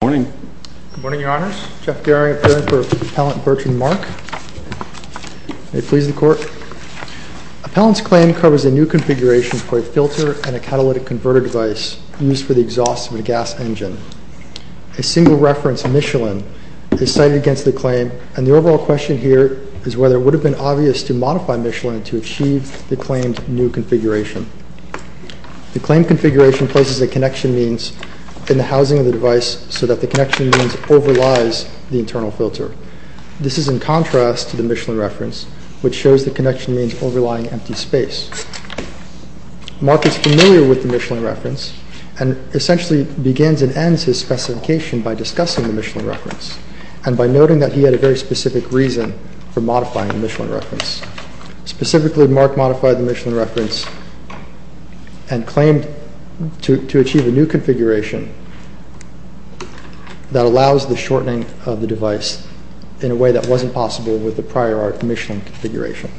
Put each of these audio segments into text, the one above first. Appellant's claim covers a new configuration for a filter and a catalytic converter device used for the exhaust of a gas engine. A single reference, Michelin, is cited against the claim and the overall question here is whether it would have been obvious to modify Michelin to achieve the claimed new configuration. The claimed configuration places a connection means in the housing of the device so that the connection means overlies the internal filter. This is in contrast to the Michelin reference which shows the connection means overlying empty space. Marc is familiar with the Michelin reference and essentially begins and ends his specification by discussing the Michelin reference and by noting that he had a very specific reason for modifying the Michelin reference. Specifically, Marc modified the Michelin reference and claimed to achieve a new configuration that allows the shortening of the device in a way that wasn't possible with the prior Michelin configuration.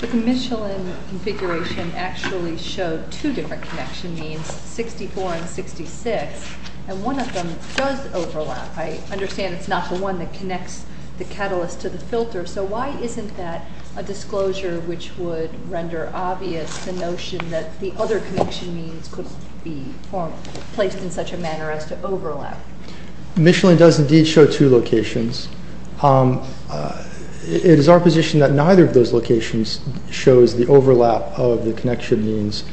The Michelin configuration actually showed two different connection means, 64 and 66, and one of them does overlap. I understand it's not the one that connects the catalyst to the filter, so why isn't that a disclosure which would render obvious the notion that the other connection means could be placed in such a manner as to overlap? Michelin does indeed show two locations. It is our position that neither of those locations shows the overlap of the connection means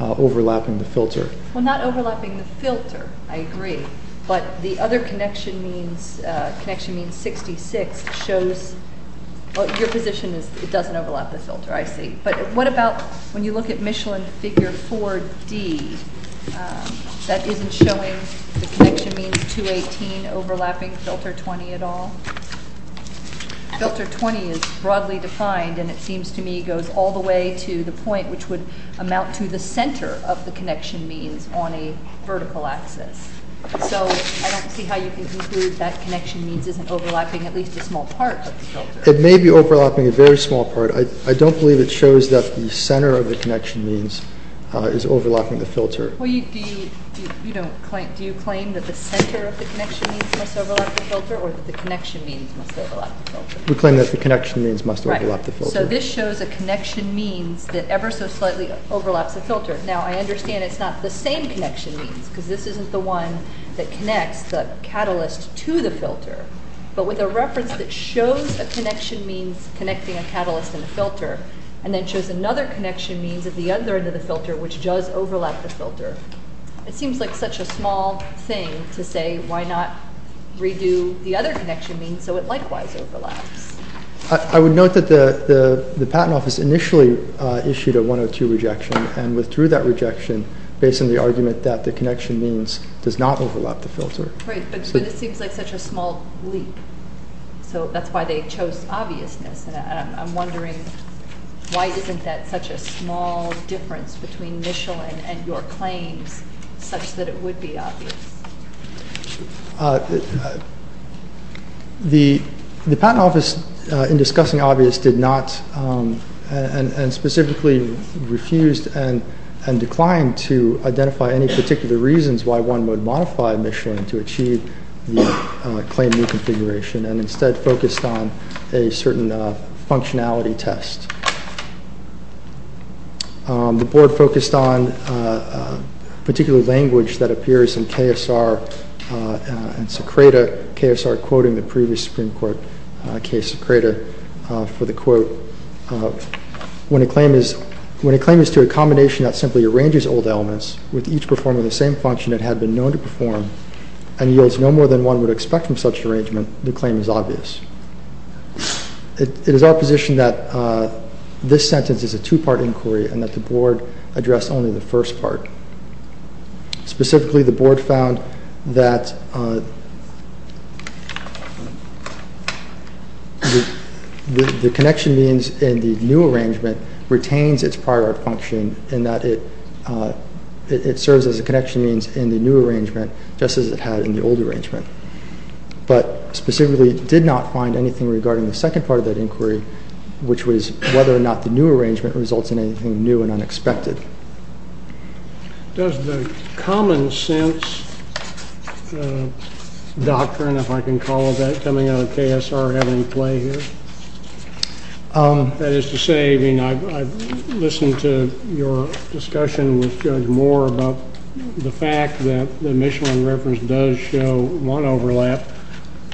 overlapping the filter. Not overlapping the filter, I agree, but the other connection means, 66, doesn't overlap the filter, I see. What about when you look at Michelin figure 4D, that isn't showing the connection means 218 overlapping filter 20 at all? Filter 20 is broadly defined and it seems to me goes all the way to the point which would amount to the center of the connection means on a vertical axis. So, I don't see how you can conclude that connection means isn't overlapping at least a small part of the filter. It may be overlapping a very small part. I don't believe it shows that the center of the connection means is overlapping the filter. Do you claim that the center of the connection means must overlap the filter or that the connection means must overlap the filter? We claim that the connection means must overlap the filter. So, this shows a connection means that ever so slightly overlaps the filter. Now, I understand it's not the same connection means because this isn't the one that connects the catalyst to the filter, but with a reference that shows a connection means connecting a catalyst and a filter, and then shows another connection means at the other end of the filter which does overlap the filter. It seems like such a small thing to say why not redo the other connection means so it likewise overlaps. I would note that the patent office initially issued a 102 rejection and withdrew that rejection based on the argument that the connection means does not overlap the filter. Great, but it seems like such a small leap, so that's why they chose obviousness. I'm wondering why isn't that such a small difference between Michelin and your claims such that it would be obvious? The patent office in discussing obvious did not and specifically refused and declined to identify any particular reasons why one would modify Michelin to achieve the claim new configuration and instead focused on a certain functionality test. The board focused on particular language that appears in KSR and Secreta. KSR quoting the previous Supreme Court case Secreta for the quote, when a claim is to a combination that simply arranges old elements with each performing the same function it had been known to perform and yields no more than one would expect from such an arrangement, the claim is obvious. It is our position that this sentence is a two-part inquiry and that the board addressed only the first part. Specifically, the board found that the connection means in the new arrangement retains its prior function in that it serves as a connection means in the new arrangement just as it had in the old arrangement, but specifically did not find anything regarding the second part of that inquiry, which was whether or not the new arrangement results in anything new and unexpected. Does the common sense doctrine, if I can call it that, coming out of KSR have any play here? That is to say, I've listened to your discussion with Judge Moore about the fact that the Michelin reference does show one overlap.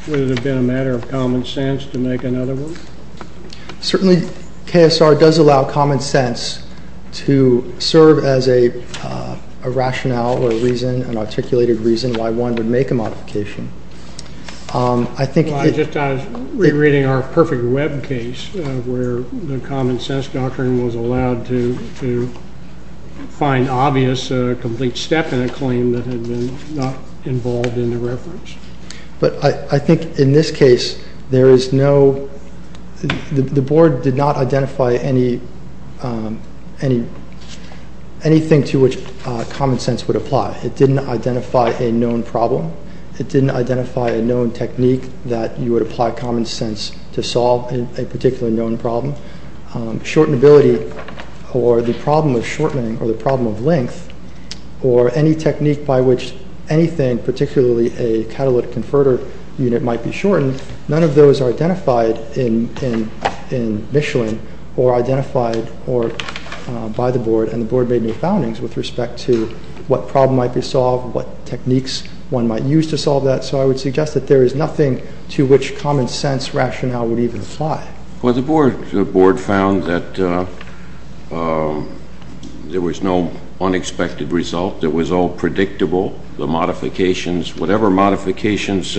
Would it have been a matter of common sense to make another one? Certainly, KSR does allow common sense to serve as a rationale or a reason, an articulated reason, why one would make a modification. I was just re-reading our perfect web case where the common sense doctrine was allowed to find obvious, a complete step in a claim that had been not involved in the reference. But I think in this case, the board did not identify anything to which common sense would apply. It didn't identify a known problem. It didn't identify a known technique that you would apply common sense to solve a particularly known problem. Shortenability or the problem of shortening or the problem of length or any technique by which anything, particularly a catalytic converter unit might be shortened, none of those are identified in Michelin or identified by the board. And the board made no foundings with respect to what problem might be solved, what techniques one might use to solve that. So I would suggest that there is nothing to which common sense rationale would even apply. Well, the board found that there was no unexpected result. It was all predictable. The modifications, whatever modifications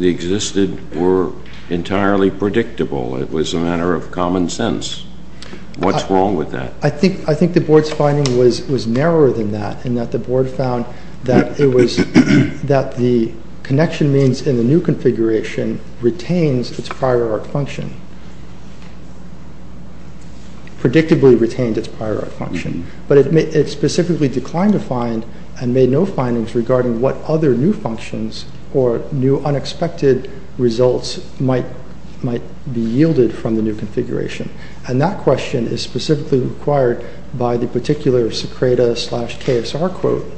existed, were entirely predictable. It was a matter of common sense. What's wrong with that? I think the board's finding was narrower than that in that the board found that the connection means in the new configuration retains its prior art function, predictably retains its prior art function. But it specifically declined to find and made no findings regarding what other new functions or new unexpected results might be yielded from the new configuration. And that question is specifically required by the particular Secreta slash KSR quote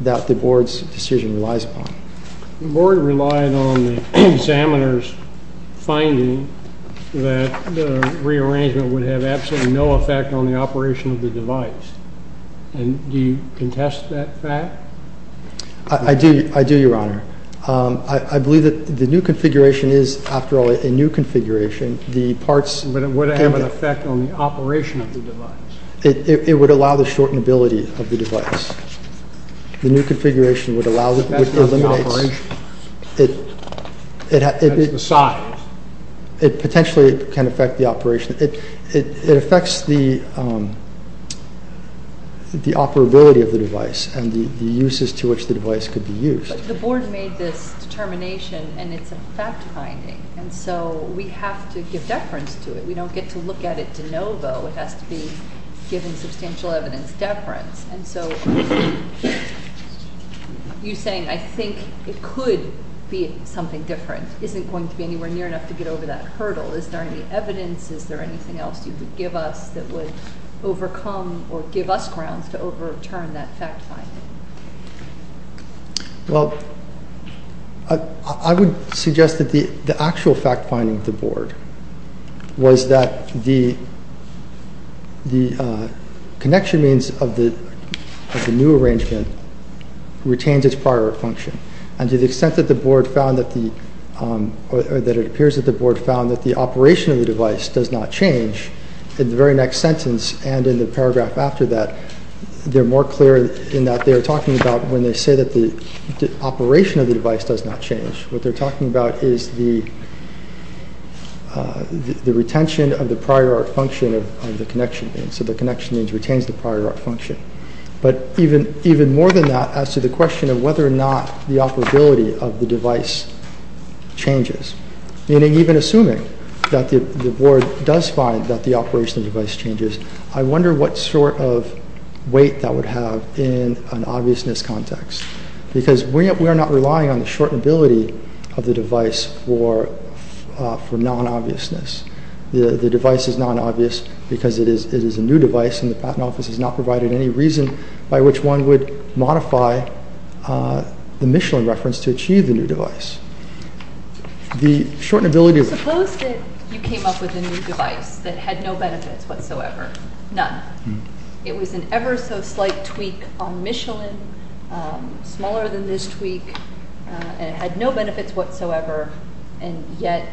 that the board's decision relies upon. The board relied on the examiner's finding that the rearrangement would have absolutely no effect on the operation of the device. And do you contest that fact? I do, Your Honor. I believe that the new configuration is, after all, a new configuration. But it would have an effect on the operation of the device. It would allow the shortenability of the device. That's not the operation. That's the size. It potentially can affect the operation. It affects the operability of the device and the uses to which the device could be used. But the board made this determination, and it's a fact-finding. And so we have to give deference to it. We don't get to look at it de novo. It has to be given substantial evidence deference. And so you're saying, I think it could be something different, isn't going to be anywhere near enough to get over that hurdle. Is there any evidence, is there anything else you could give us that would overcome or give us grounds to overturn that fact-finding? Well, I would suggest that the actual fact-finding of the board was that the connection means of the new arrangement retains its prior function. And to the extent that it appears that the board found that the operation of the device does not change, in the very next sentence and in the paragraph after that, they're more clear in that they're talking about when they say that the operation of the device does not change. What they're talking about is the retention of the prior function of the connection. So the connection means retains the prior function. But even more than that, as to the question of whether or not the operability of the device changes, meaning even assuming that the board does find that the operation of the device changes, I wonder what sort of weight that would have in an obviousness context. Because we are not relying on the short ability of the device for non-obviousness. The device is non-obvious because it is a new device, and the Patent Office has not provided any reason by which one would modify the Michelin reference to achieve the new device. Suppose that you came up with a new device that had no benefits whatsoever, none. It was an ever-so-slight tweak on Michelin, smaller than this tweak, and it had no benefits whatsoever, and yet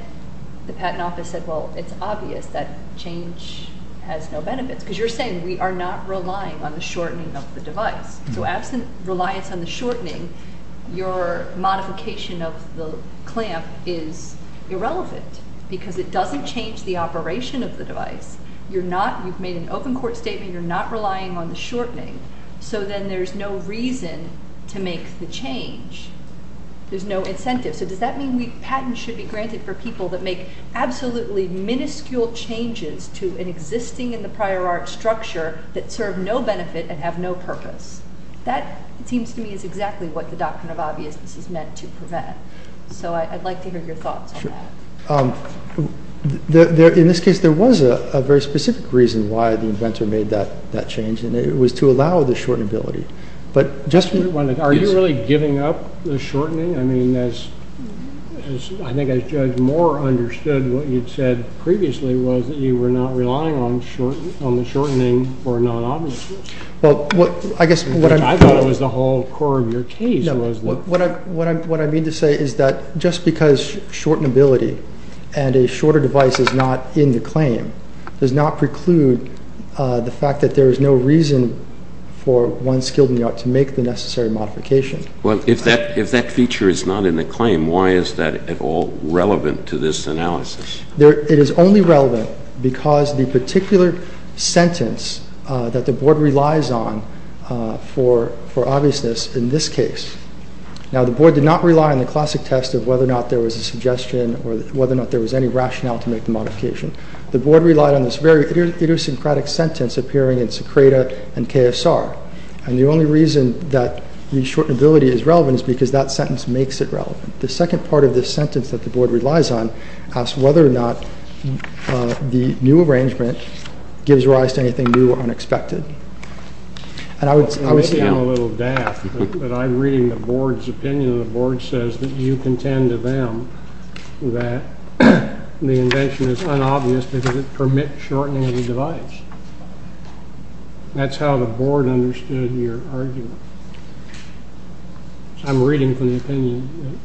the Patent Office said, well, it's obvious that change has no benefits. Because you're saying we are not relying on the shortening of the device. So absent reliance on the shortening, your modification of the clamp is irrelevant because it doesn't change the operation of the device. You've made an open court statement. You're not relying on the shortening. So then there's no reason to make the change. There's no incentive. So does that mean patents should be granted for people that make absolutely minuscule changes to an existing in the prior art structure that serve no benefit and have no purpose? That seems to me is exactly what the doctrine of obviousness is meant to prevent. So I'd like to hear your thoughts on that. In this case, there was a very specific reason why the inventor made that change, and it was to allow the short ability. Are you really giving up the shortening? I mean, I think as Judge Moore understood what you'd said previously was that you were not relying on the shortening for non-obviousness. I thought it was the whole core of your case. What I mean to say is that just because short ability and a shorter device is not in the claim does not preclude the fact that there is no reason for one skilled in the art to make the necessary modification. Well, if that feature is not in the claim, why is that at all relevant to this analysis? It is only relevant because the particular sentence that the board relies on for obviousness in this case. Now, the board did not rely on the classic test of whether or not there was a suggestion or whether or not there was any rationale to make the modification. The board relied on this very idiosyncratic sentence appearing in Secreta and KSR. And the only reason that the short ability is relevant is because that sentence makes it relevant. The second part of this sentence that the board relies on asks whether or not the new arrangement gives rise to anything new or unexpected. And I would say... Maybe I'm a little daft, but I'm reading the board's opinion. The board says that you contend to them that the invention is unobvious because it permits shortening of the device. That's how the board understood your argument. I'm reading from the opinion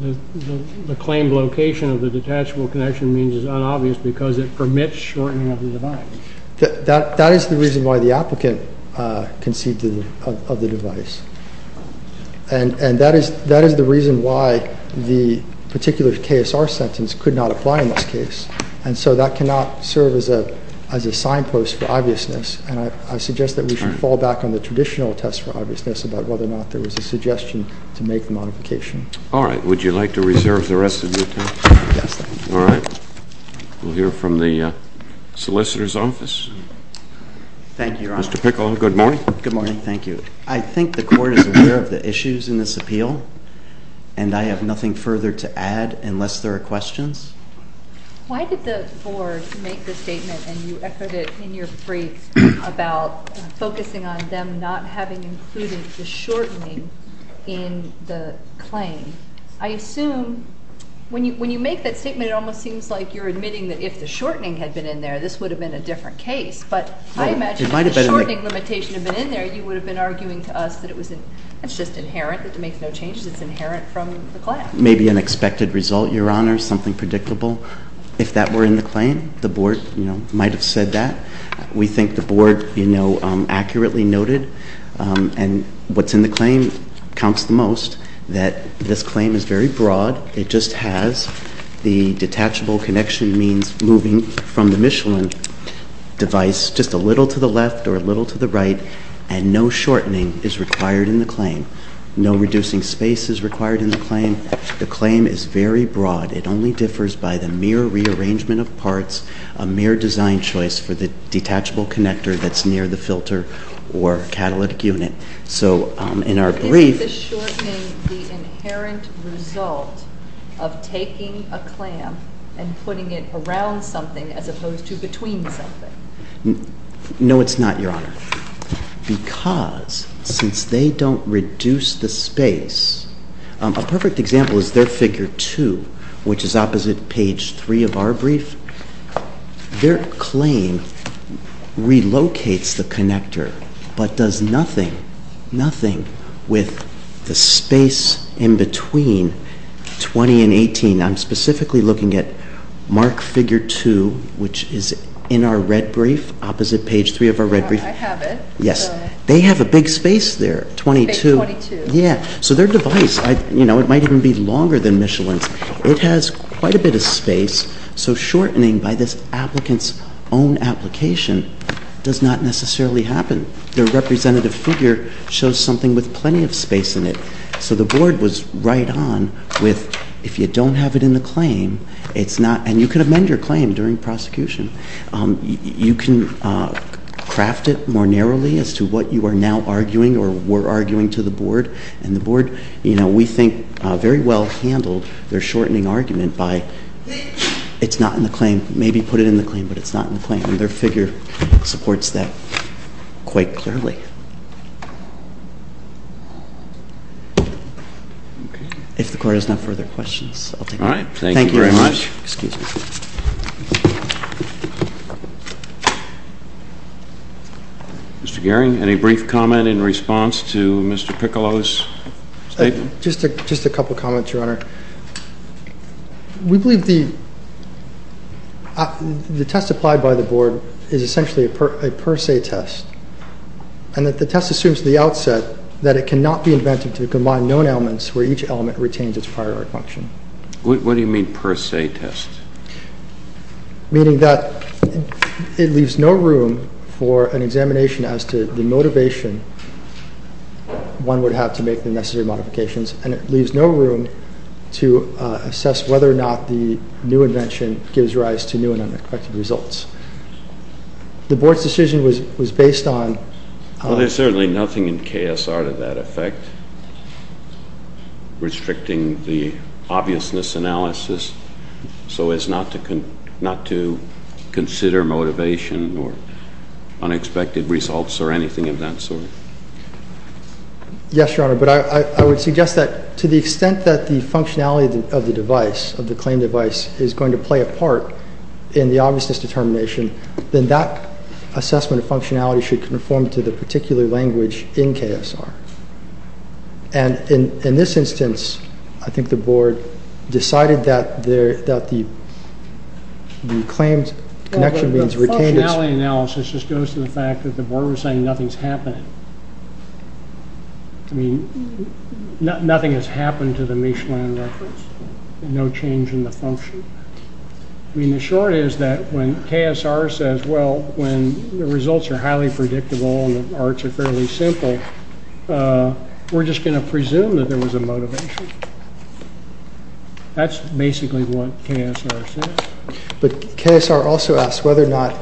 that the claim location of the detachable connection means is unobvious because it permits shortening of the device. That is the reason why the applicant conceived of the device. And that is the reason why the particular KSR sentence could not apply in this case. And so that cannot serve as a signpost for obviousness. And I suggest that we should fall back on the traditional test for obviousness about whether or not there was a suggestion to make the modification. All right. Would you like to reserve the rest of your time? Yes, sir. All right. We'll hear from the solicitor's office. Thank you, Your Honor. Mr. Pickle, good morning. Good morning. Thank you. I think the court is aware of the issues in this appeal, and I have nothing further to add unless there are questions. Why did the board make the statement, and you echoed it in your brief, about focusing on them not having included the shortening in the claim? I assume when you make that statement, it almost seems like you're admitting that if the shortening had been in there, this would have been a different case. But I imagine if the shortening limitation had been in there, you would have been arguing to us that it's just inherent, that it makes no changes. It's inherent from the claim. Maybe an expected result, Your Honor, something predictable. If that were in the claim, the board might have said that. We think the board accurately noted, and what's in the claim counts the most, that this claim is very broad. It just has the detachable connection means moving from the Michelin device just a little to the left or a little to the right, and no shortening is required in the claim. No reducing space is required in the claim. The claim is very broad. It only differs by the mere rearrangement of parts, a mere design choice for the detachable connector that's near the filter or catalytic unit. So in our brief— Isn't the shortening the inherent result of taking a clamp and putting it around something as opposed to between something? No, it's not, Your Honor. Because since they don't reduce the space, a perfect example is their figure 2, which is opposite page 3 of our brief. Their claim relocates the connector but does nothing, nothing with the space in between 20 and 18. I'm specifically looking at mark figure 2, which is in our red brief, opposite page 3 of our red brief. I have it. Yes. They have a big space there, 22. Big 22. Yeah. So their device, you know, it might even be longer than Michelin's. It has quite a bit of space, so shortening by this applicant's own application does not necessarily happen. Their representative figure shows something with plenty of space in it. So the board was right on with if you don't have it in the claim, it's not—and you can amend your claim during prosecution. You can craft it more narrowly as to what you are now arguing or were arguing to the board. And the board, you know, we think very well handled their shortening argument by it's not in the claim. Maybe put it in the claim, but it's not in the claim. And their figure supports that quite clearly. If the court has no further questions, I'll take them. All right. Thank you very much. Thank you very much. Excuse me. Mr. Gearing, any brief comment in response to Mr. Piccolo's statement? Just a couple comments, Your Honor. We believe the test applied by the board is essentially a per se test. And that the test assumes at the outset that it cannot be invented to combine known elements where each element retains its prior art function. What do you mean per se test? Meaning that it leaves no room for an examination as to the motivation one would have to make the necessary modifications. And it leaves no room to assess whether or not the new invention gives rise to new and unexpected results. The board's decision was based on— Well, there's certainly nothing in KSR to that effect. Restricting the obviousness analysis so as not to consider motivation or unexpected results or anything of that sort. Yes, Your Honor. But I would suggest that to the extent that the functionality of the device, of the claimed device, is going to play a part in the obviousness determination, then that assessment of functionality should conform to the particular language in KSR. And in this instance, I think the board decided that the claimed connection— The functionality analysis just goes to the fact that the board was saying nothing's happening. I mean, nothing has happened to the Michelin reference. No change in the function. I mean, the short is that when KSR says, well, when the results are highly predictable and the arts are fairly simple, we're just going to presume that there was a motivation. That's basically what KSR says. But KSR also asks whether or not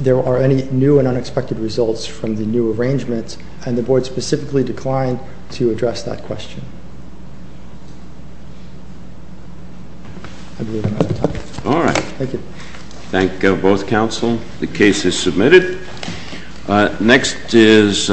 there are any new and unexpected results from the new arrangements, and the board specifically declined to address that question. I believe I'm out of time. All right. Thank you. Thank both counsel. The case is submitted. Next is—